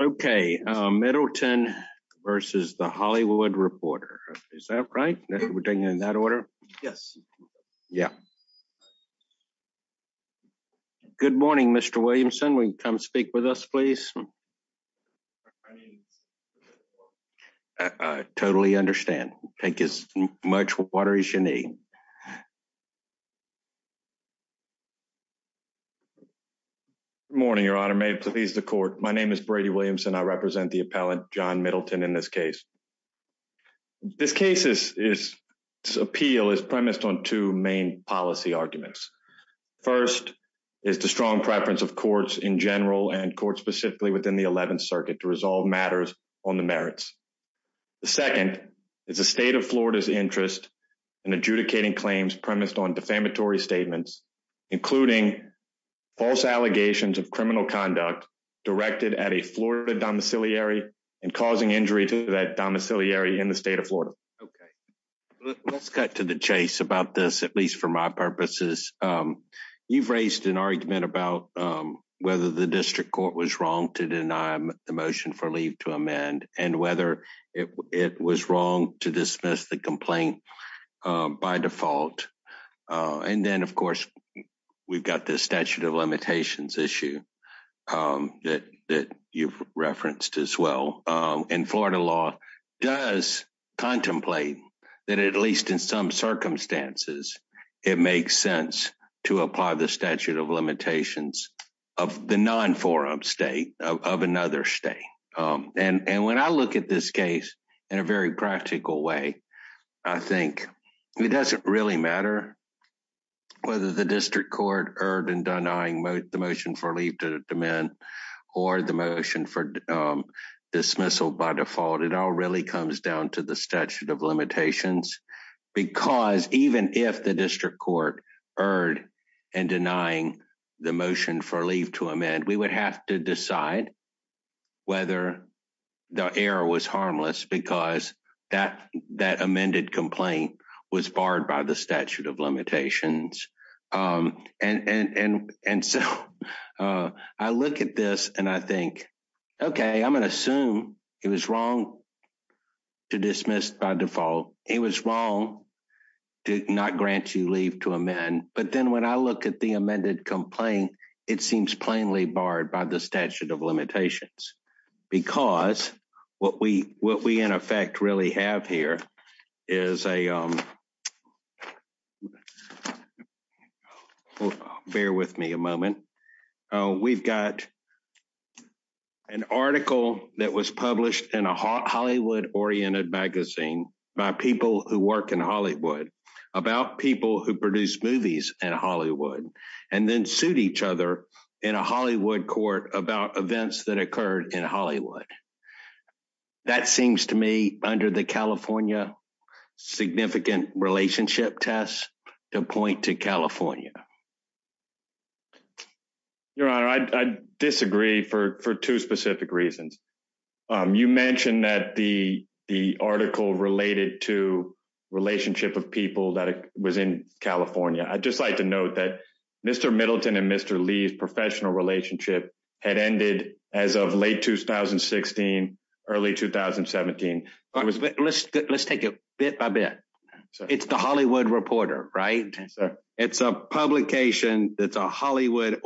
Okay, Middleton versus The Hollywood Reporter. Is that right? We're doing in that order? Yes. Yeah. Good morning, Mr. Williamson. Will you come speak with us, Totally understand. Take as much water as you need. Morning, Your Honor. May it please the court. My name is Brady Williamson. I represent the appellant John Middleton in this case. This case is appeal is premised on two main policy arguments. First is the strong preference of courts in general and court specifically within the 11th Circuit to resolve matters on the merits. The second is the state of Florida's interest in adjudicating claims premised on defamatory statements, including false allegations of criminal conduct directed at a Florida domiciliary and causing injury to that domiciliary in the state of Florida. Okay, let's cut to the chase about this, at least for my purposes. You've raised an argument about whether the district court was wrong to deny the motion for leave to amend and whether it was wrong to dismiss the complaint by default. And then of course, we've got this statute of limitations issue that you've referenced as well. And Florida law does contemplate that at least in some circumstances, it makes sense to apply the statute of limitations of the non-forum state of another state. And when I look at this case in a very practical way, I think it doesn't really matter whether the district court erred in denying the motion for leave to amend or the motion for dismissal by default. It all really comes down to the statute of limitations because even if the district court erred and denying the motion for leave to amend, we would have to decide whether the error was harmless because that amended complaint was barred by the statute of limitations. And so, I look at this and I think, okay, I'm gonna assume it was wrong to dismiss by default. It was wrong to not grant you leave to amend. But then when I look at the amended complaint, it seems plainly barred by the statute of limitations because what we in effect really have here is a Bear with me a moment. We've got an article that was published in a Hollywood oriented magazine by people who work in Hollywood about people who produce movies in Hollywood and then suit each other in a Hollywood court about events that occurred in Hollywood. That seems to me under the California significant relationship test to point to California. Your honor, I'd I'd disagree for for two specific reasons. You mentioned that the the article related to relationship of people that was in California. I'd just like to note that mister Middleton and mister Lee's professional relationship had ended as of late 2016 early 2017. Let's let's take it bit by bit. It's the Hollywood reporter, right? It's a publication. It's a Hollywood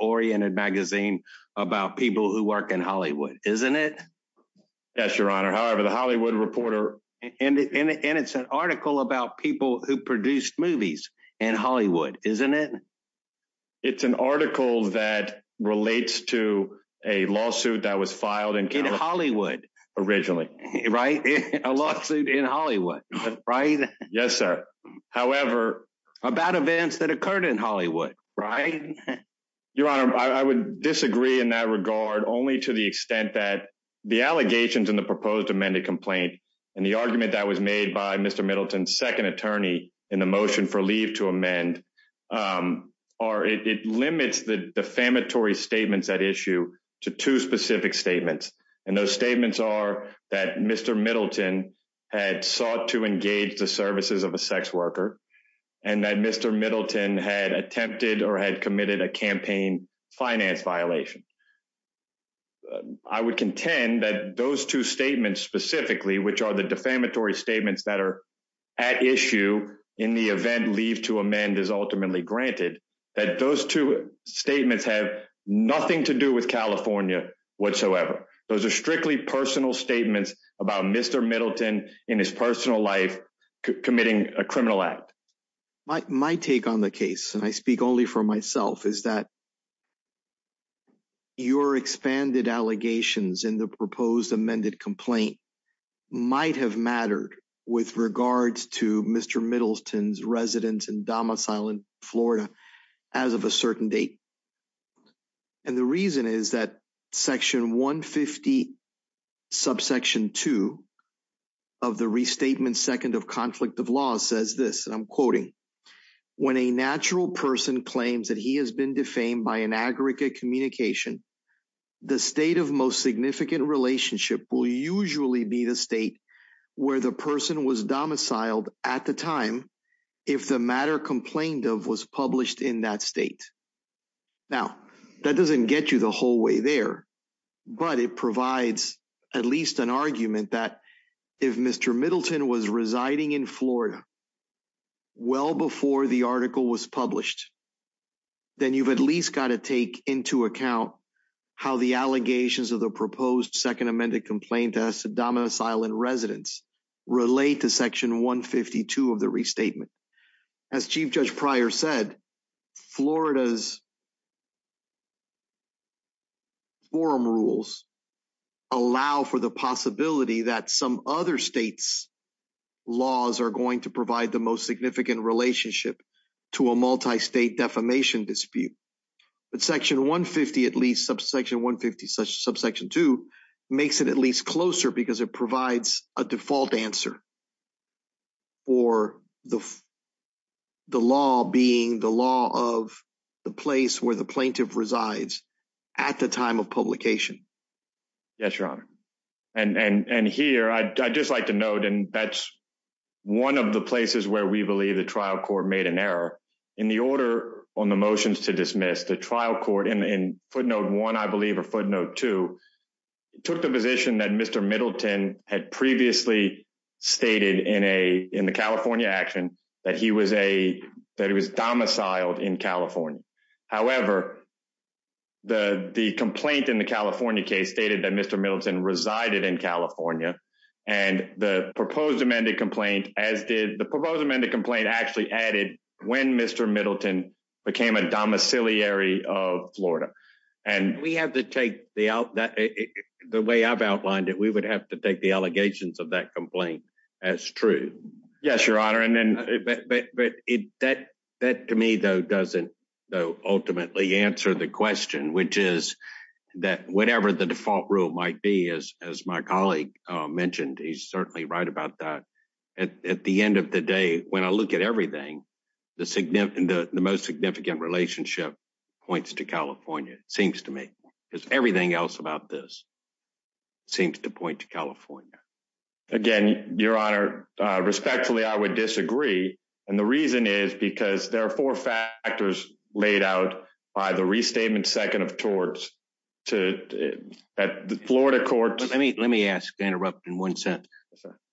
oriented magazine about people who work in Hollywood, isn't it? Yes, your honor. However, the Hollywood reporter and it's an article about people who produce movies in Hollywood, isn't it? It's an article that relates to a lawsuit that was in Hollywood originally, right? A lawsuit in Hollywood, right? Yes, sir. However, about events that occurred in Hollywood, right? Your honor, I would disagree in that regard only to the extent that the allegations in the proposed amended complaint and the argument that was made by mister Middleton's second attorney in the motion for leave to amend or it limits the defamatory statements at issue to two specific statements. And those statements are that mister Middleton had sought to engage the services of a sex worker and that mister Middleton had attempted or had committed a campaign finance violation. I would contend that those two statements specifically, which are the defamatory statements that are at issue in the event leave to amend is ultimately granted that those two statements have nothing to do with California whatsoever. Those are strictly personal statements about mister Middleton in his personal life committing a criminal act. My take on the case and I speak only for myself is that. Your expanded allegations in the proposed amended complaint might have mattered with regards to mister Middleton's residence and domicile in as of a certain date. And the reason is that section 150 subsection two of the restatement second of conflict of law says this and I'm quoting when a natural person claims that he has been defamed by an aggregate communication, the state of most significant relationship will usually be the state where the person was domiciled at the time if the complaint of was published in that state. Now that doesn't get you the whole way there, but it provides at least an argument that if mister Middleton was residing in Florida well before the article was published, then you've at least gotta take into account how the allegations of the proposed second amended complaint as a domicile and Residents relate to section 152 of the restatement as Chief Judge Pryor said, Florida's. Forum rules allow for the possibility that some other states laws are going to provide the most significant relationship to a multi-state defamation dispute, but section 150 at least subsection 150 subsection two makes it at closer because it provides a default answer. Or the the law being the law of the place where the plaintiff resides at the time of publication. Yes, your honor and and and here II just like to note and that's one of the places where we believe the trial court made an error in the order on the motions to dismiss the trial court in in footnote one. I Middleton had previously stated in a in the California action that he was a that he was domiciled in California. However, the the complaint in the California case stated that mister Middleton resided in California and the proposed amended complaint as did the proposed amended complaint actually added when mister Middleton became a domiciliary of Florida and we have to take the out that the way I've outlined it, we would have to take the allegations of that complaint as true. Yes, your honor and then but but it that that to me though doesn't though ultimately answer the question, which is that whatever the default rule might be as as my colleague mentioned, he's certainly right about that at at the end of the day when I look at everything the the most significant relationship points to California. It seems to me it's everything else about this seems to point to California again. Your honor respectfully, I would disagree and the reason is because there are four factors laid out by the restatement second of towards to at the Florida court. Let me let me ask to interrupt in one sentence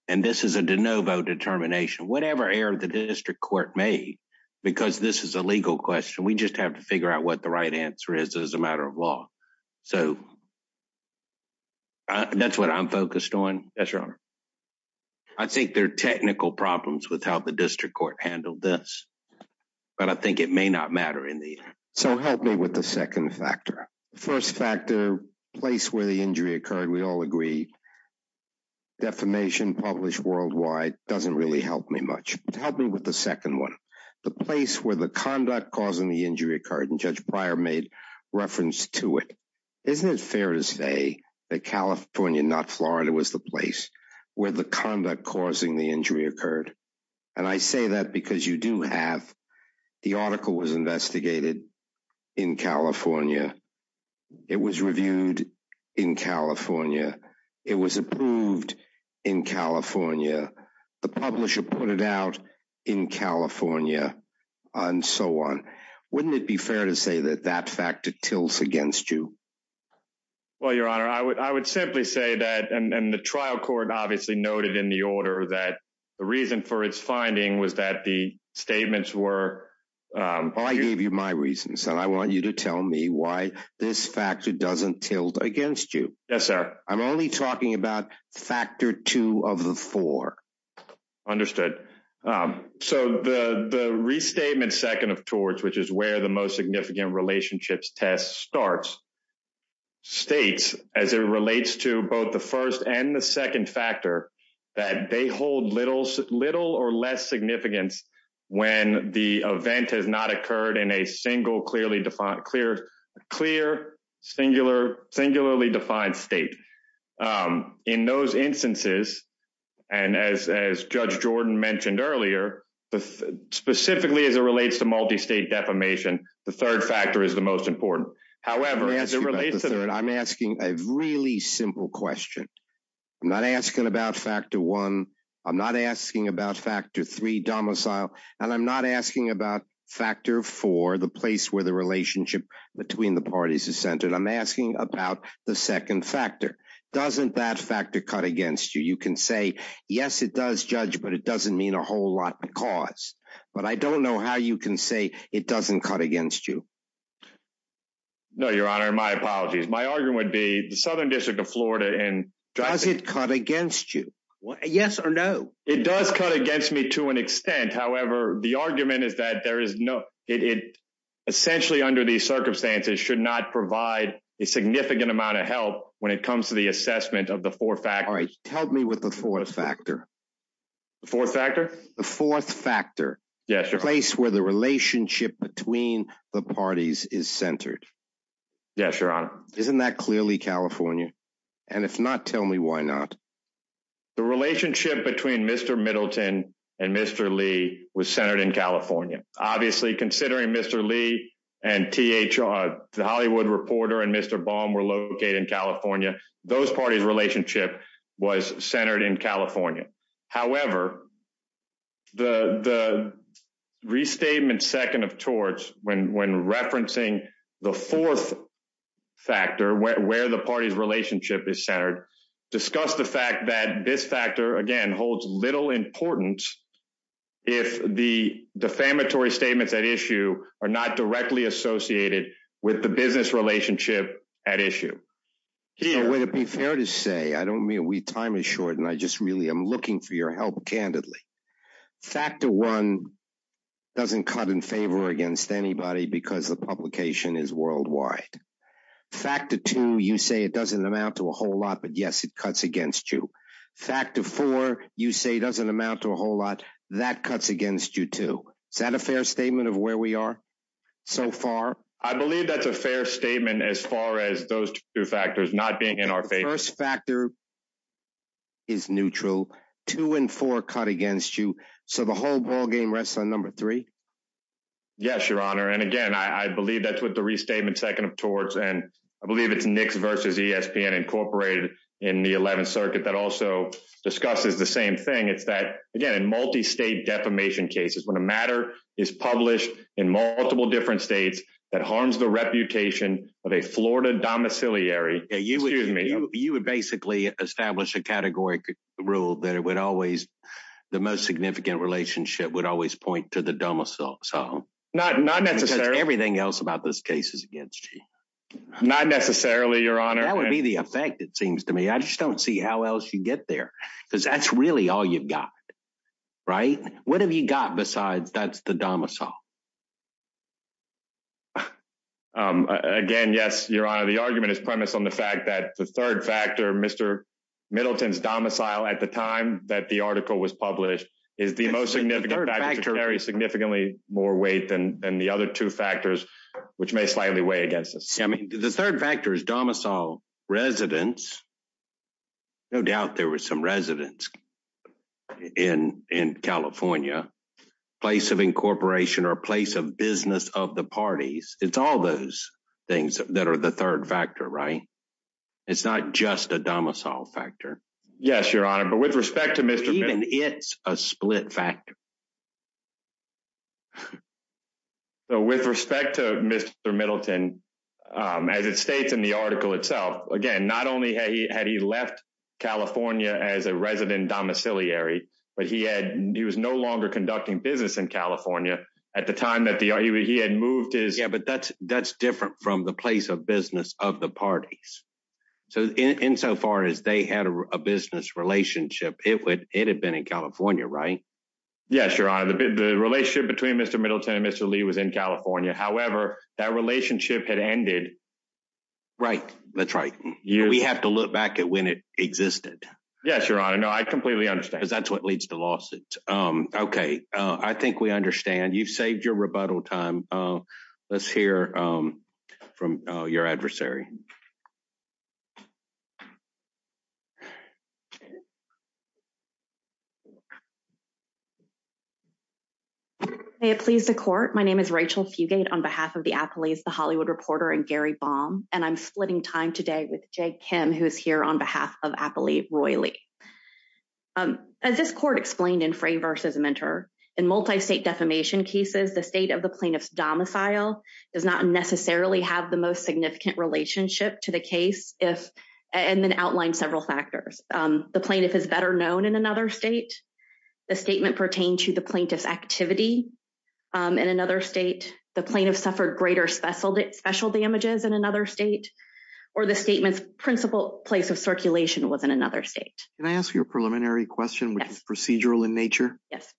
and this is a de novo determination. Whatever error the district court made because this is a legal question. We just have to figure out what the right answer is as a matter of law. So that's what I'm focused on. Yes, your honor. I think there are technical problems with how the district court handled this, but I think it may not matter in the so help me with the second factor. The first factor place where the injury occurred. We all agree defamation published worldwide doesn't really help me much to help me with the second one. The place where the conduct causing the injury occurred and judge prior made reference to it. Isn't it fair to say that California not Florida was the place where the conduct causing the injury occurred and I say that because you do have the article was investigated in California. It was reviewed in California. It was approved in California. The publisher put it out in California and so on. Wouldn't it be fair to say that that factor tilts against you? Well, your honor, I would I would simply say that and and the trial court obviously noted in the order that the reason for its finding was that the statements were I gave you my reasons and I want you to tell me why this factor doesn't tilt against you. Yes, sir. I'm only talking about factor two of the four understood so the the restatement second of towards which is where the most significant relationships test starts states as it relates to both the first and the second factor that they hold little little or less significance when the event has not occurred in a single clearly defined clear clear singular singularly defined state in those instances and as as judge Jordan mentioned earlier, the specifically as it relates to multi-state defamation, the third factor is the most important. However, as it relates to that, I'm asking a really simple question. I'm not asking about factor one. I'm not asking about factor three domicile and I'm not asking about factor four, the place where the relationship between the parties is centered. I'm against you. You can say, yes, it does judge but it doesn't mean a whole lot because but I don't know how you can say it doesn't cut against you. No, your honor. My apologies. My argument would be the Southern District of Florida and does it cut against you? Yes or no? It does cut against me to an extent. However, the argument is that there is no, it essentially under these circumstances should not provide a significant amount of help when it comes to the assessment of the four-factor. Alright, help me with the fourth factor. The fourth factor? The fourth factor. Yes, your place where the relationship between the parties is centered. Yes, your honor. Isn't that clearly California? And if not, tell me why not? The relationship between Mr. Middleton and Mr. Lee was centered in California. Obviously, considering Mr. Lee and THR, the Hollywood reporter and Mr. Baum were located in California. Those parties relationship was centered in California. However, the restatement second of torts when referencing the fourth factor where the party's relationship is centered, discuss the fact that this factor again holds little importance if the defamatory statements at issue are not directly associated with the business relationship at issue. So, would it be fair to say I don't mean we time is short and I just really am looking for your help. Candidly, factor one doesn't cut in favor against anybody because the publication is worldwide. Factor two, you say it doesn't amount to a whole lot but yes, it cuts against you. Factor four, you say doesn't amount to a whole lot that cuts against you too. Is that a fair statement of where we are so far? I believe that's a fair statement as far as those two factors not being in our favor. First factor is neutral. Two and four cut against you. So, the whole ballgame rests on number three. Yes, your honor and again, I I believe that's what the restatement second of torts and I believe it's Knicks versus ESPN Incorporated in the eleventh circuit that also discusses the same thing. It's that again, in multi-state defamation cases, when a matter is published in multiple different states that harms the reputation of a Florida domiciliary. Excuse me. You would basically establish a category rule that it would always the most significant relationship would always point to the domicile. So, not not necessarily. Everything else about this case is against you. Not necessarily your honor. That would be the effect it seems to me. I just don't see how else you get there because that's really all you've got, right? What have you got Besides, that's the domicile. Again, yes, your honor. The argument is premised on the fact that the third factor, mister Middleton's domicile at the time that the article was published is the most significant factor to carry significantly more weight than than the other two factors which may slightly weigh against us. I mean, the third factor is domicile residents. No doubt there was some residents in in California. Place of incorporation or place of business of the parties. It's all those things that are the third factor, right? It's not just a domicile factor. Yes, your honor but with respect to mister, even it's a split factor. So, with respect to mister Middleton, as it states in the itself. Again, not only had he had he left California as a resident domiciliary but he had, he was no longer conducting business in California at the time that the he had moved his. Yeah but that's that's different from the place of business of the parties. So, in insofar as they had a business relationship, it would, it had been in California, right? Yes, your honor. The the relationship between mister Middleton and mister Lee was in California. However, that relationship had ended. Right. That's right. We have to look back at when it existed. Yes, your honor. No, I completely understand. Cuz that's what leads to lawsuits. Um okay. Uh I think we understand. You've saved your rebuttal time. Uh let's hear um from uh your adversary. May it please the court. My name is Rachel Fugate on behalf of the Appleys, the Hollywood Reporter, and Gary Baum and I'm splitting time today with Jay Kim who's here on behalf of Appley Roy Lee. Um as this court explained in Fray versus Mentor, in multi-state defamation cases, the state of the plaintiff's domicile does not necessarily have the most significant relationship to the case if and then outline several factors. Um the plaintiff is better known in another state. The statement pertain to the plaintiff's activity. Um in another state, the plaintiff suffered greater special special damages in another state or the statement's principle place of circulation was in another state. Can I ask you a preliminary question? Yes. Procedural in nature. Yes.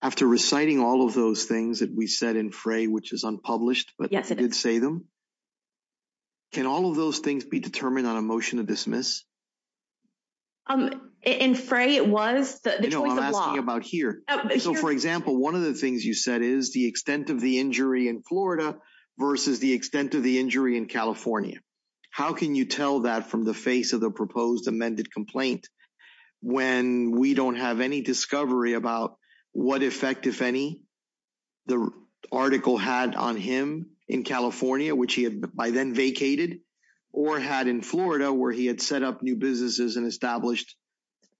After reciting all of those things that we said in Fray which is unpublished but. Yes, I did say them. Can all of those things be determined on a motion to dismiss? Um in Fray, it was the choice of law. I'm asking about here. So, for example, one of the things you said is the extent of the injury in Florida versus the extent of the injury in California. How can you tell that from the face of the proposed amended complaint when we don't have any discovery about what effect if any the article had on him in California, which he had by then vacated or had in Florida where he had set up new businesses and established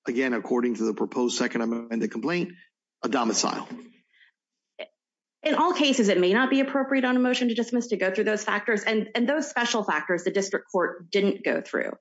again, according to the proposed second amendment complaint, a domicile. In all cases, it may not be appropriate on a motion to dismiss to go through those factors and and those special factors, the district court didn't go through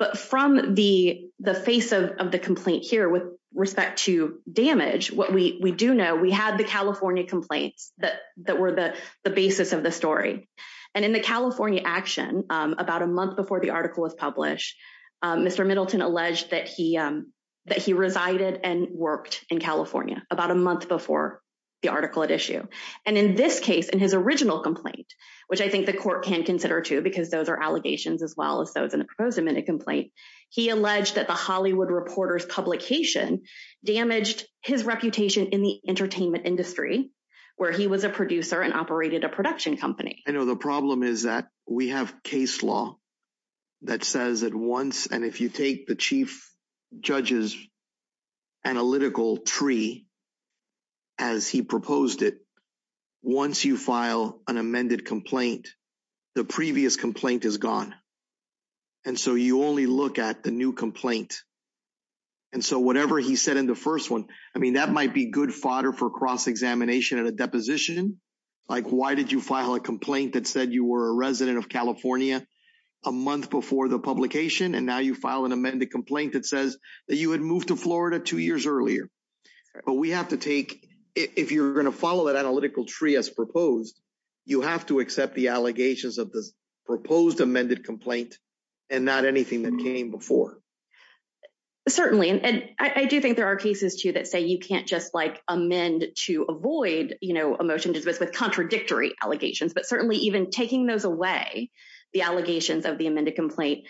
but from the the face of of the complaint here with respect to damage, what we we do know, we have the California complaints that that were the the basis of the story and in the California action about a month before the article was published, Mr Middleton alleged that he that he resided and worked in California about a month before the article at issue and in this case, in his original complaint, which I think the court can consider too because those are allegations as well as those in the proposed amended complaint, he alleged that the Hollywood reporter's publication damaged his reputation in the entertainment industry where he was a producer and operated a production company. I know the problem is that we have case law that says that once and if you take the chief judge's analytical tree as he proposed it, once you file an amended complaint, the previous complaint is gone and so you only look at the new complaint and so whatever he said in the first one, I mean that might be good fodder for cross examination and a deposition like why did you file a complaint that said you were a resident of California a month before the publication and now you file an amended complaint that says that you had moved to Florida 2 years earlier but we have to take if you're going to follow that analytical tree as proposed, you have to accept the allegations of the proposed amended complaint and not anything that came before. Certainly and I do think there are cases too that say you can't just like amend to avoid you know a motion to dismiss with contradictory allegations, but certainly even taking those away the allegations of the amended complaint,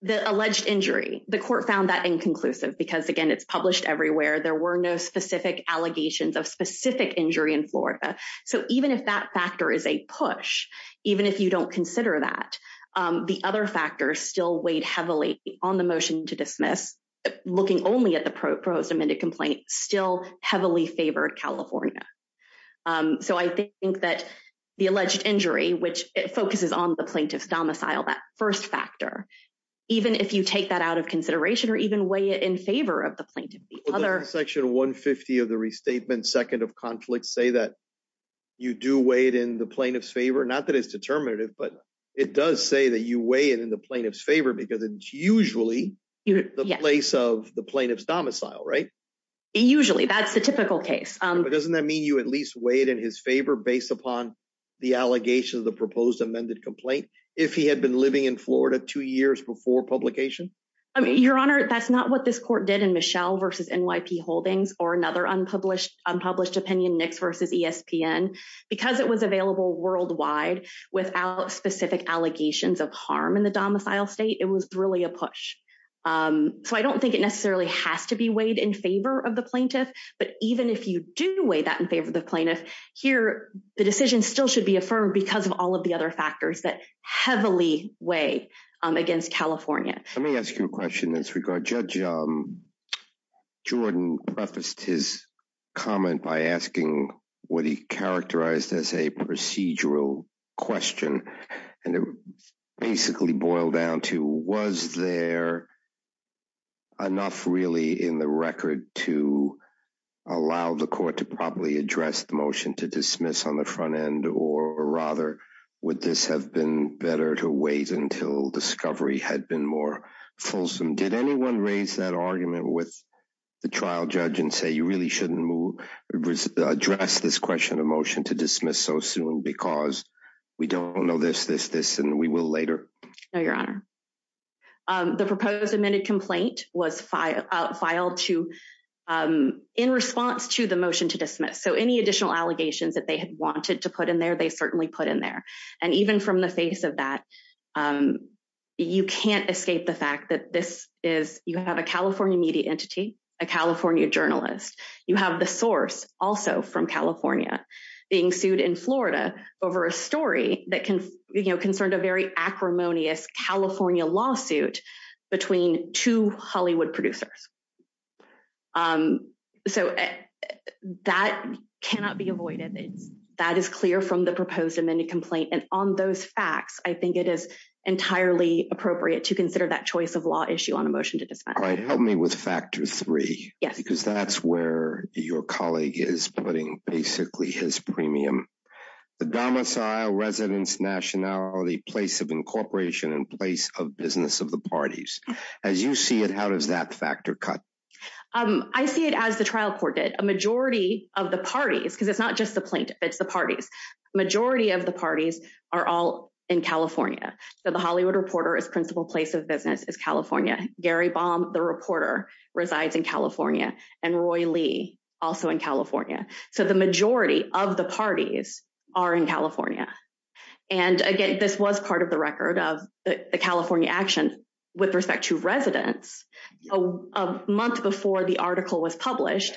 the alleged injury, the court found that inconclusive because again, it's published everywhere. There were no specific allegations of specific injury in Florida. So even if that factor is a push, even if you don't consider that the other factors still weighed heavily on the motion to dismiss looking only at the proposed amended complaint still heavily favored California. So I think that the alleged injury, which it focuses on the plaintiff's domicile, that first factor, even if you take that out of consideration or even weigh it in favor of the plaintiff, the other section 150 of the restatement second of conflict say that you do weigh it in the plaintiff's favor. Not that it's determinative, but it does say that you weigh it in the plaintiff's favor because it's usually the place of the plaintiff's domicile, right? Usually that's the typical case, but doesn't that mean you at least weigh it in his favor based upon the allegation of the proposed amended complaint? If he had been living in Florida 2 years before publication, I mean your honor, that's not what this court did in Michelle versus NYP Holdings or another unpublished unpublished opinion, Knicks versus ESPN because it was available worldwide without specific allegations of harm in the domicile state. It was really a push, so I don't think it necessarily has to be weighed in favor of the plaintiff, but even if you do weigh that in favor of the plaintiff here, the decision still should be affirmed because of all of the other factors that heavily weigh against California. Let me ask you a question in this regard. Judge Jordan prefaced his comment by asking what he characterized as a procedural question and it basically boiled down to was there enough really in the record to allow the court to properly address the motion to dismiss on the front end or rather would this have been better to wait until discovery had been more fulsome? Did anyone raise that argument with the trial judge and say you really shouldn't address this question of motion to dismiss so soon because we don't know this and we will later? No, your honor. The proposed admitted complaint was filed in response to the motion to dismiss, so any additional allegations that they had wanted to put in there, they certainly put in there and even from the face of that, you can't escape the fact that this is you have a California media entity, a California journalist, you have the source also from California being sued in Florida over a story that can you know concerned a very acrimonious California lawsuit between two Hollywood producers. So that cannot be avoided. It's that is clear from the proposed amended complaint and on those facts, I think it is entirely appropriate to consider that choice of law issue on a motion to dismiss. All right, help me with factor three. Yes, because that's where your colleague is putting basically his premium. The domicile residence nationality place of incorporation in place of business of the parties as you see it. How does that factor cut? I see it as the trial court did a majority of the parties because it's not just the plaintiff. It's the parties majority of the parties are all in California. So the Hollywood reporter is principle place of business is California. Gary Baum, the reporter resides in California and Roy Lee also in California. So the majority of the parties are in California and again, this was part of the record of the California action with respect to residents a month before the article was published.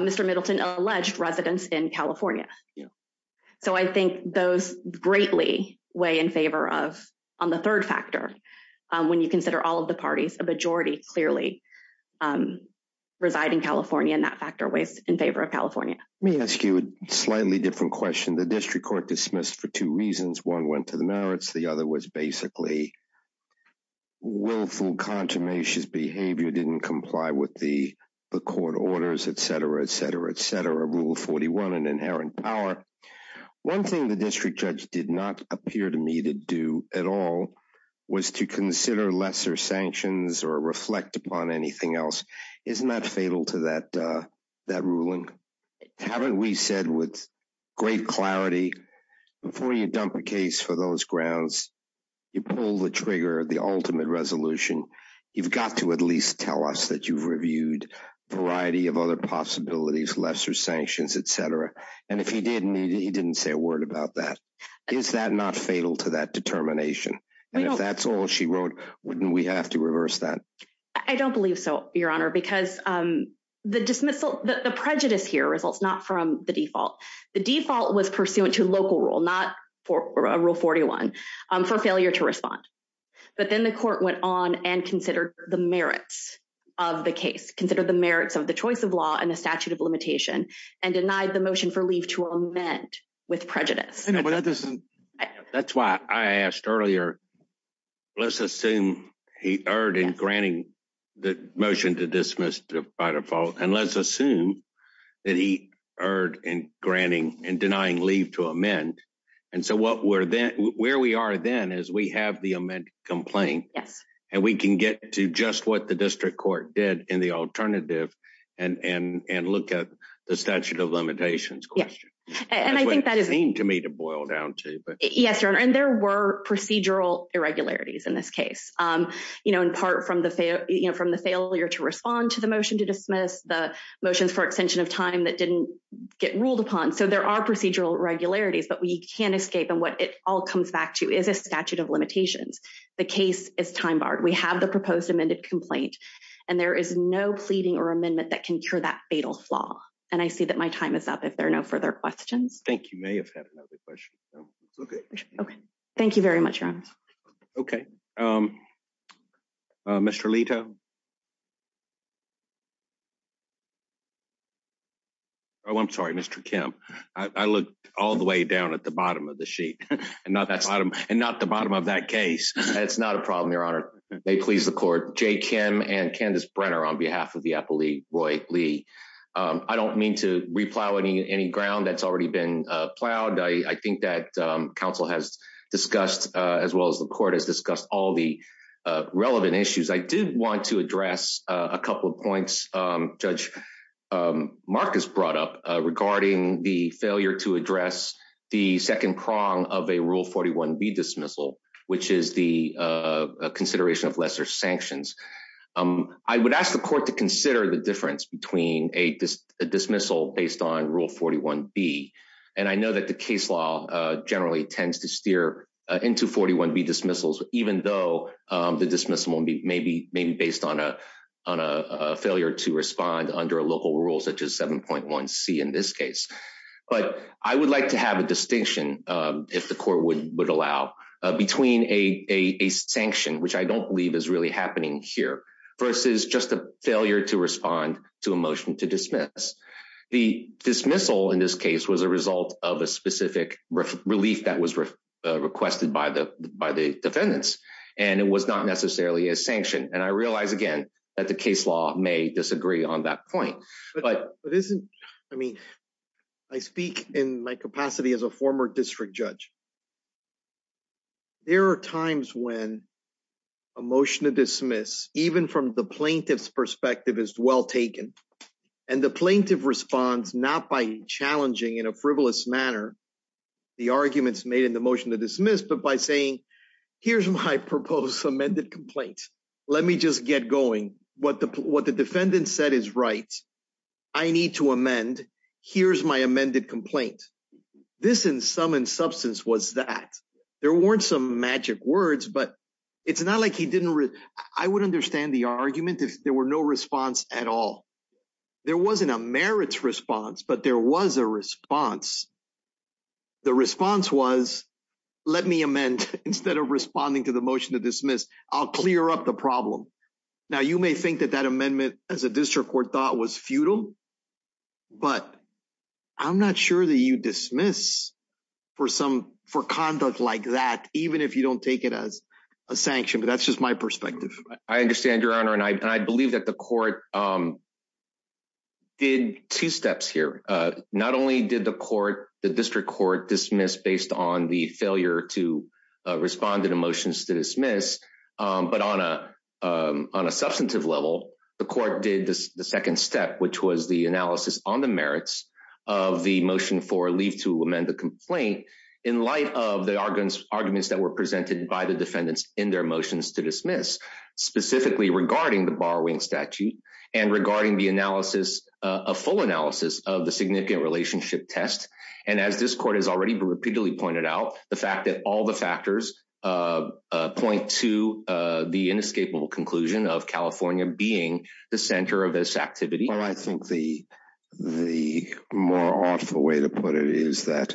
Mister Middleton alleged residents in California. So I think those greatly way in favor of on the third factor when you consider all of the parties, a majority clearly reside in California and that factor was in favor of California. Let me ask you a slightly different question. The district court dismissed for two reasons. One went to the merits. The other was basically willful, consummation behavior didn't comply with the the court orders, etcetera, etcetera, etcetera. Rule forty-one an inherent power. One thing the district judge did not appear to me to do at all was to consider lesser sanctions or reflect upon anything else. Isn't that fatal to that that ruling? Haven't we said with great clarity before you dump a case for those grounds, you pull the trigger, the ultimate resolution, you've got to at least tell us that you've reviewed variety of other possibilities, lesser sanctions, etcetera. And if he didn't, he didn't say a word about that. Is that not fatal to that determination? And if that's all she wrote, wouldn't we have to reverse that? I don't believe so, your honor because the dismissal, the prejudice here results not from the default. The default was pursuant to local rule, not for rule forty-one for failure to respond. But then the court went on and considered the merits of the case, consider the merits of the choice of law and the statute of limitation and denied the motion for leave to amend with prejudice. No, earlier, let's assume he erred in granting the motion to dismiss by default and let's assume that he erred in granting and denying leave to amend. And so what we're then where we are then is we have the amendment complaint. Yes. And we can get to just what the district court did in the alternative and and and look at the statute of limitations question. And I think that is mean to me to boil down to but yes, your honor and there were procedural irregularities in this case, you know, in part from the, you know, from the failure to respond to the motion to dismiss the motions for extension of time that didn't get ruled upon. So, there are procedural irregularities but we can't escape and what it all comes back to is a statute of limitations. The case is time barred. We have the proposed amended complaint and there is no pleading or amendment that can cure that fatal flaw and I see that my time is up if there are no further questions. I think you may have had another question. No, it's okay. Okay. Thank you very much, your honor. Okay. Um uh mister Leto. Oh, I'm sorry, mister Kim. I I looked all the way down at the bottom of the sheet and not that bottom and not the bottom of that case. That's not a problem, your honor. May please the court. Jay Kim and Candace Brenner on behalf of the Appalachian Roy Lee. Um I don't mean to replow any any ground that's already been plowed. I I think that council has discussed as well as the court has discussed all the relevant issues. I did want to address a couple of points. Judge Marcus brought up regarding the failure to address the second prong of a rule 41B dismissal which is the consideration of lesser sanctions. I would ask the court to consider the between a dismissal based on rule 41B and I know that the case law generally tends to steer into 41B dismissals even though the dismissal may be may be based on a on a failure to respond under a local rule such as 7.1C in this case but I would like to have a distinction if the court would would allow between a a a sanction which I don't believe is really happening here versus just a failure to respond to a motion to dismiss. The dismissal in this case was a result of a specific relief that was requested by the by the defendants and it was not necessarily a sanction and I realize again that the case law may disagree on that point but but isn't I mean I speak in my capacity as a former district judge. There are times when a motion to dismiss even from the plaintiff's perspective is well taken and the plaintiff responds not by challenging in a frivolous manner the arguments made in the motion to dismiss but by saying here's my proposed amended complaint. Let me just get going. What the what the defendant said is right. I need to amend. Here's my amended complaint. This in sum and substance was that there weren't some magic words but it's not like he didn't I would understand the argument if there were no response at all. There wasn't a merits response but there was a response. The response was let me amend instead of responding to the motion to dismiss. I'll clear up the problem. Now you may think that that amendment as a district court thought was futile but I'm not sure that you dismiss for some for conduct like that even if you don't take it as a sanction but that's just my perspective. I understand your honor and I believe that the court did two steps here. Not only did the court the district court dismiss based on the failure to respond to the motions to dismiss but on a substantive level the court did the second step which was the analysis on the merits of the motion for leave to amend the complaint in light of the arguments that were presented by the defendants in their motions to dismiss specifically regarding the borrowing statute and regarding the analysis a full analysis of the significant relationship test and as this court has already repeatedly pointed out the fact that all the factors point to the inescapable conclusion of california being the center of this activity well I think the the more awful way to put it is that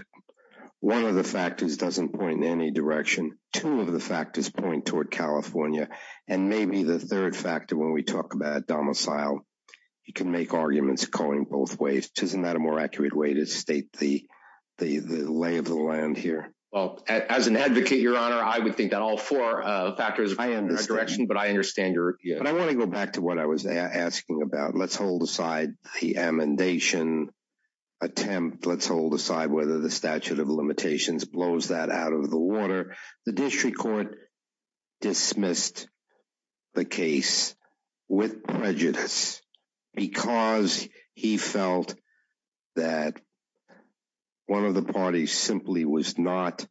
one of the factors doesn't point in any direction two of the factors point toward california and maybe the third factor when we talk about domicile you can make arguments going both ways isn't that a more accurate way to state the the the lay of the land here well as an advocate your honor I would think that all four uh factors direction but I understand your yeah but I want to go back to what I was asking about let's hold aside the amendation attempt let's hold aside whether the statute of limitations blows that out of the water the district court dismissed the case with prejudice because he felt that one of the parties simply was not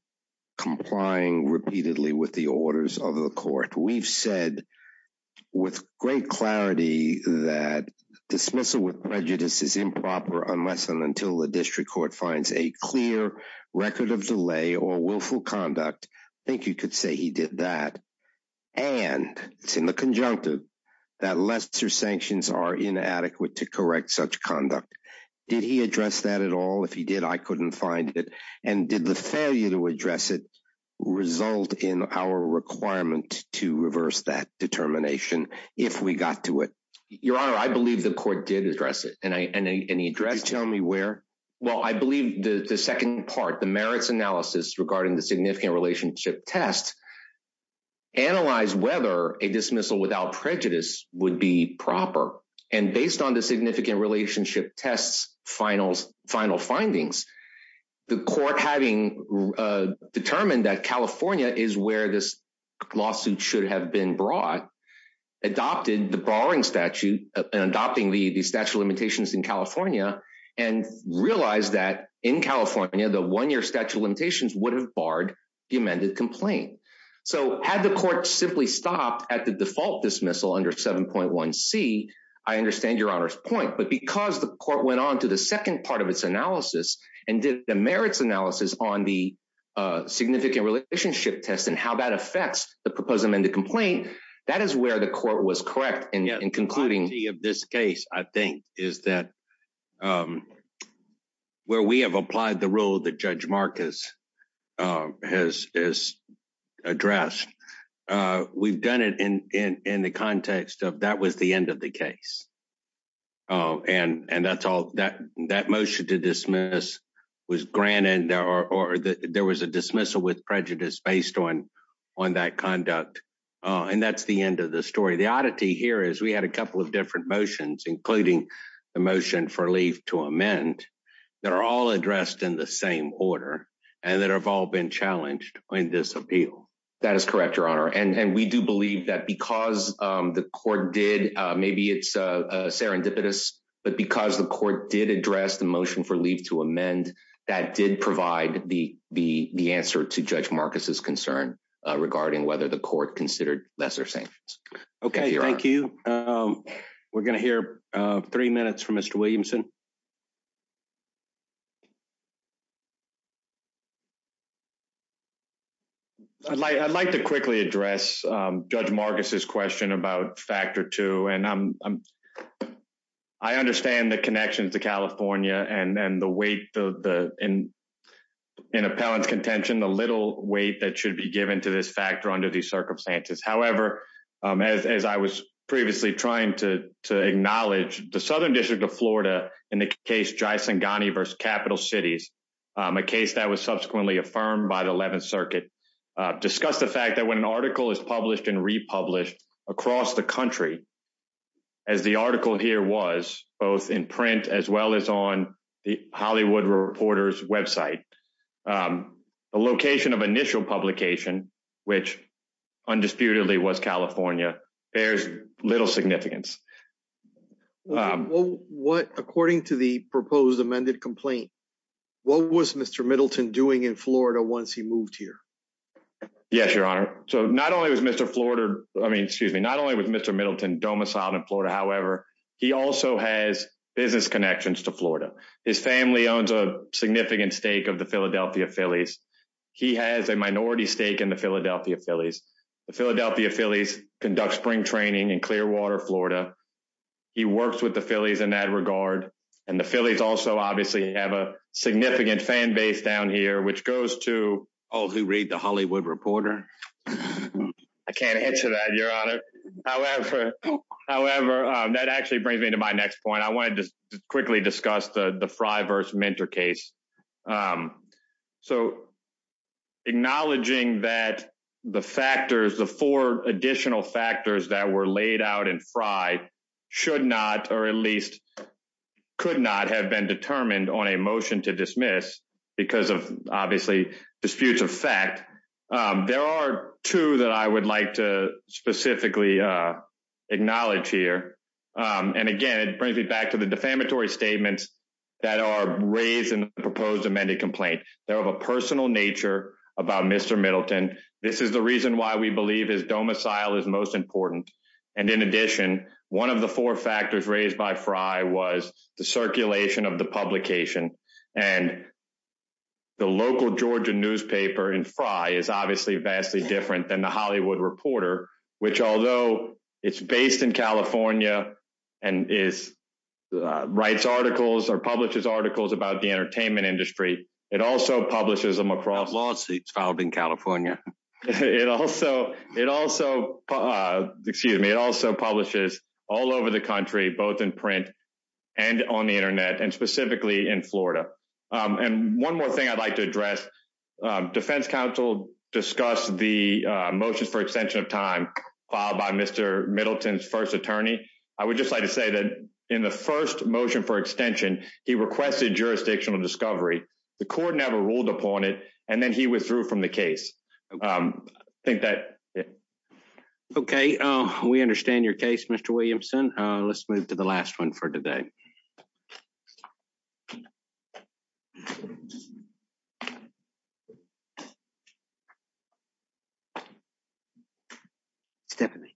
complying repeatedly with the orders of the court we've said with great clarity that dismissal with prejudice is improper unless and until the district court finds a clear record of delay or willful conduct I think you could say he did that and it's in the conjunctive that lesser sanctions are inadequate to correct such conduct did he address that at all if he did I couldn't find it and did the failure to address it result in our requirement to reverse that determination if we got to it your honor I believe the court did address it and I and he addressed tell me where well I believe the the second part the merits analysis regarding the significant relationship test analyze whether a dismissal without prejudice would be proper and based on the significant relationship tests finals final findings the court having determined that california is where this lawsuit should have been brought adopted the borrowing statute and adopting the the statute of limitations in california and realized that in california the one-year statute of limitations would have barred the amended complaint so had the court simply stopped at the default dismissal under 7.1 c I understand your honor's point but because the court went on to the second part of its analysis and did the merits analysis on the uh significant relationship test and how that affects the proposed amended complaint that is where the court was correct in concluding of this case I think is that um where we have applied the rule that judge marcus uh has is addressed uh we've done it in in in the context of that was the end of the case uh and and that's all that that motion to dismiss was granted or or that there was a dismissal with prejudice based on on that conduct uh and that's the end of the story the oddity here is we had a couple of different motions including the motion for leave to amend that are all addressed in the same order and that have all been challenged in this appeal that is correct your honor and and we do believe that because um the court did uh maybe it's uh serendipitous but because the court did address the motion for leave to amend that did provide the the the answer to judge marcus's concern uh regarding whether the court considered lesser sanctions okay thank you um we're gonna hear uh three minutes from mr williamson you i'd like i'd like to quickly address um judge marcus's question about factor two and i'm i understand the connection to california and and the weight the the in in appellant's contention the little weight that should be given to this factor under these circumstances however um as as i was previously trying to to acknowledge the southern district of florida in the case jai singhani versus capital cities a case that was subsequently affirmed by the 11th circuit discussed the fact that when an article is published and republished across the country as the article here was both in print as well as on the hollywood reporter's website the location of initial publication which undisputedly was california bears little significance um what according to the proposed amended complaint what was mr middleton doing in florida once he moved here yes your honor so not only was mr florida i mean excuse me not only with mr middleton domiciled in florida however he also has business connections to florida his family owns a significant stake of the philadelphia phillies he has a minority stake in the philadelphia phillies the philadelphia phillies conduct spring training in clearwater florida he works with the phillies in that regard and the phillies also obviously have a significant fan base down here which goes to all who read the hollywood reporter i can't answer that your honor however however that actually brings me to my next point i wanted to quickly discuss the the fry verse mentor case um so acknowledging that the factors the four additional factors that were laid out and fried should not or at least could not have been determined on a motion to dismiss because of obviously disputes of fact there are two that i would like to specifically uh acknowledge here um and again it brings back to the defamatory statements that are raised in the proposed amended complaint they're of a personal nature about mr middleton this is the reason why we believe is domicile is most important and in addition one of the four factors raised by fry was the circulation of the publication and the local georgia newspaper in fry is obviously vastly different than the hollywood reporter which although it's based in california and is writes articles or publishes articles about the entertainment industry it also publishes them across lawsuits filed in california it also it also uh excuse me it also publishes all over the country both in print and on the internet and specifically in florida and one more thing i'd like to address defense council discussed the motions for extension of time filed by mr middleton's attorney i would just like to say that in the first motion for extension he requested jurisdictional discovery the court never ruled upon it and then he withdrew from the case um i think that okay uh we understand your case mr williamson uh let's move to the last one for today okay stephanie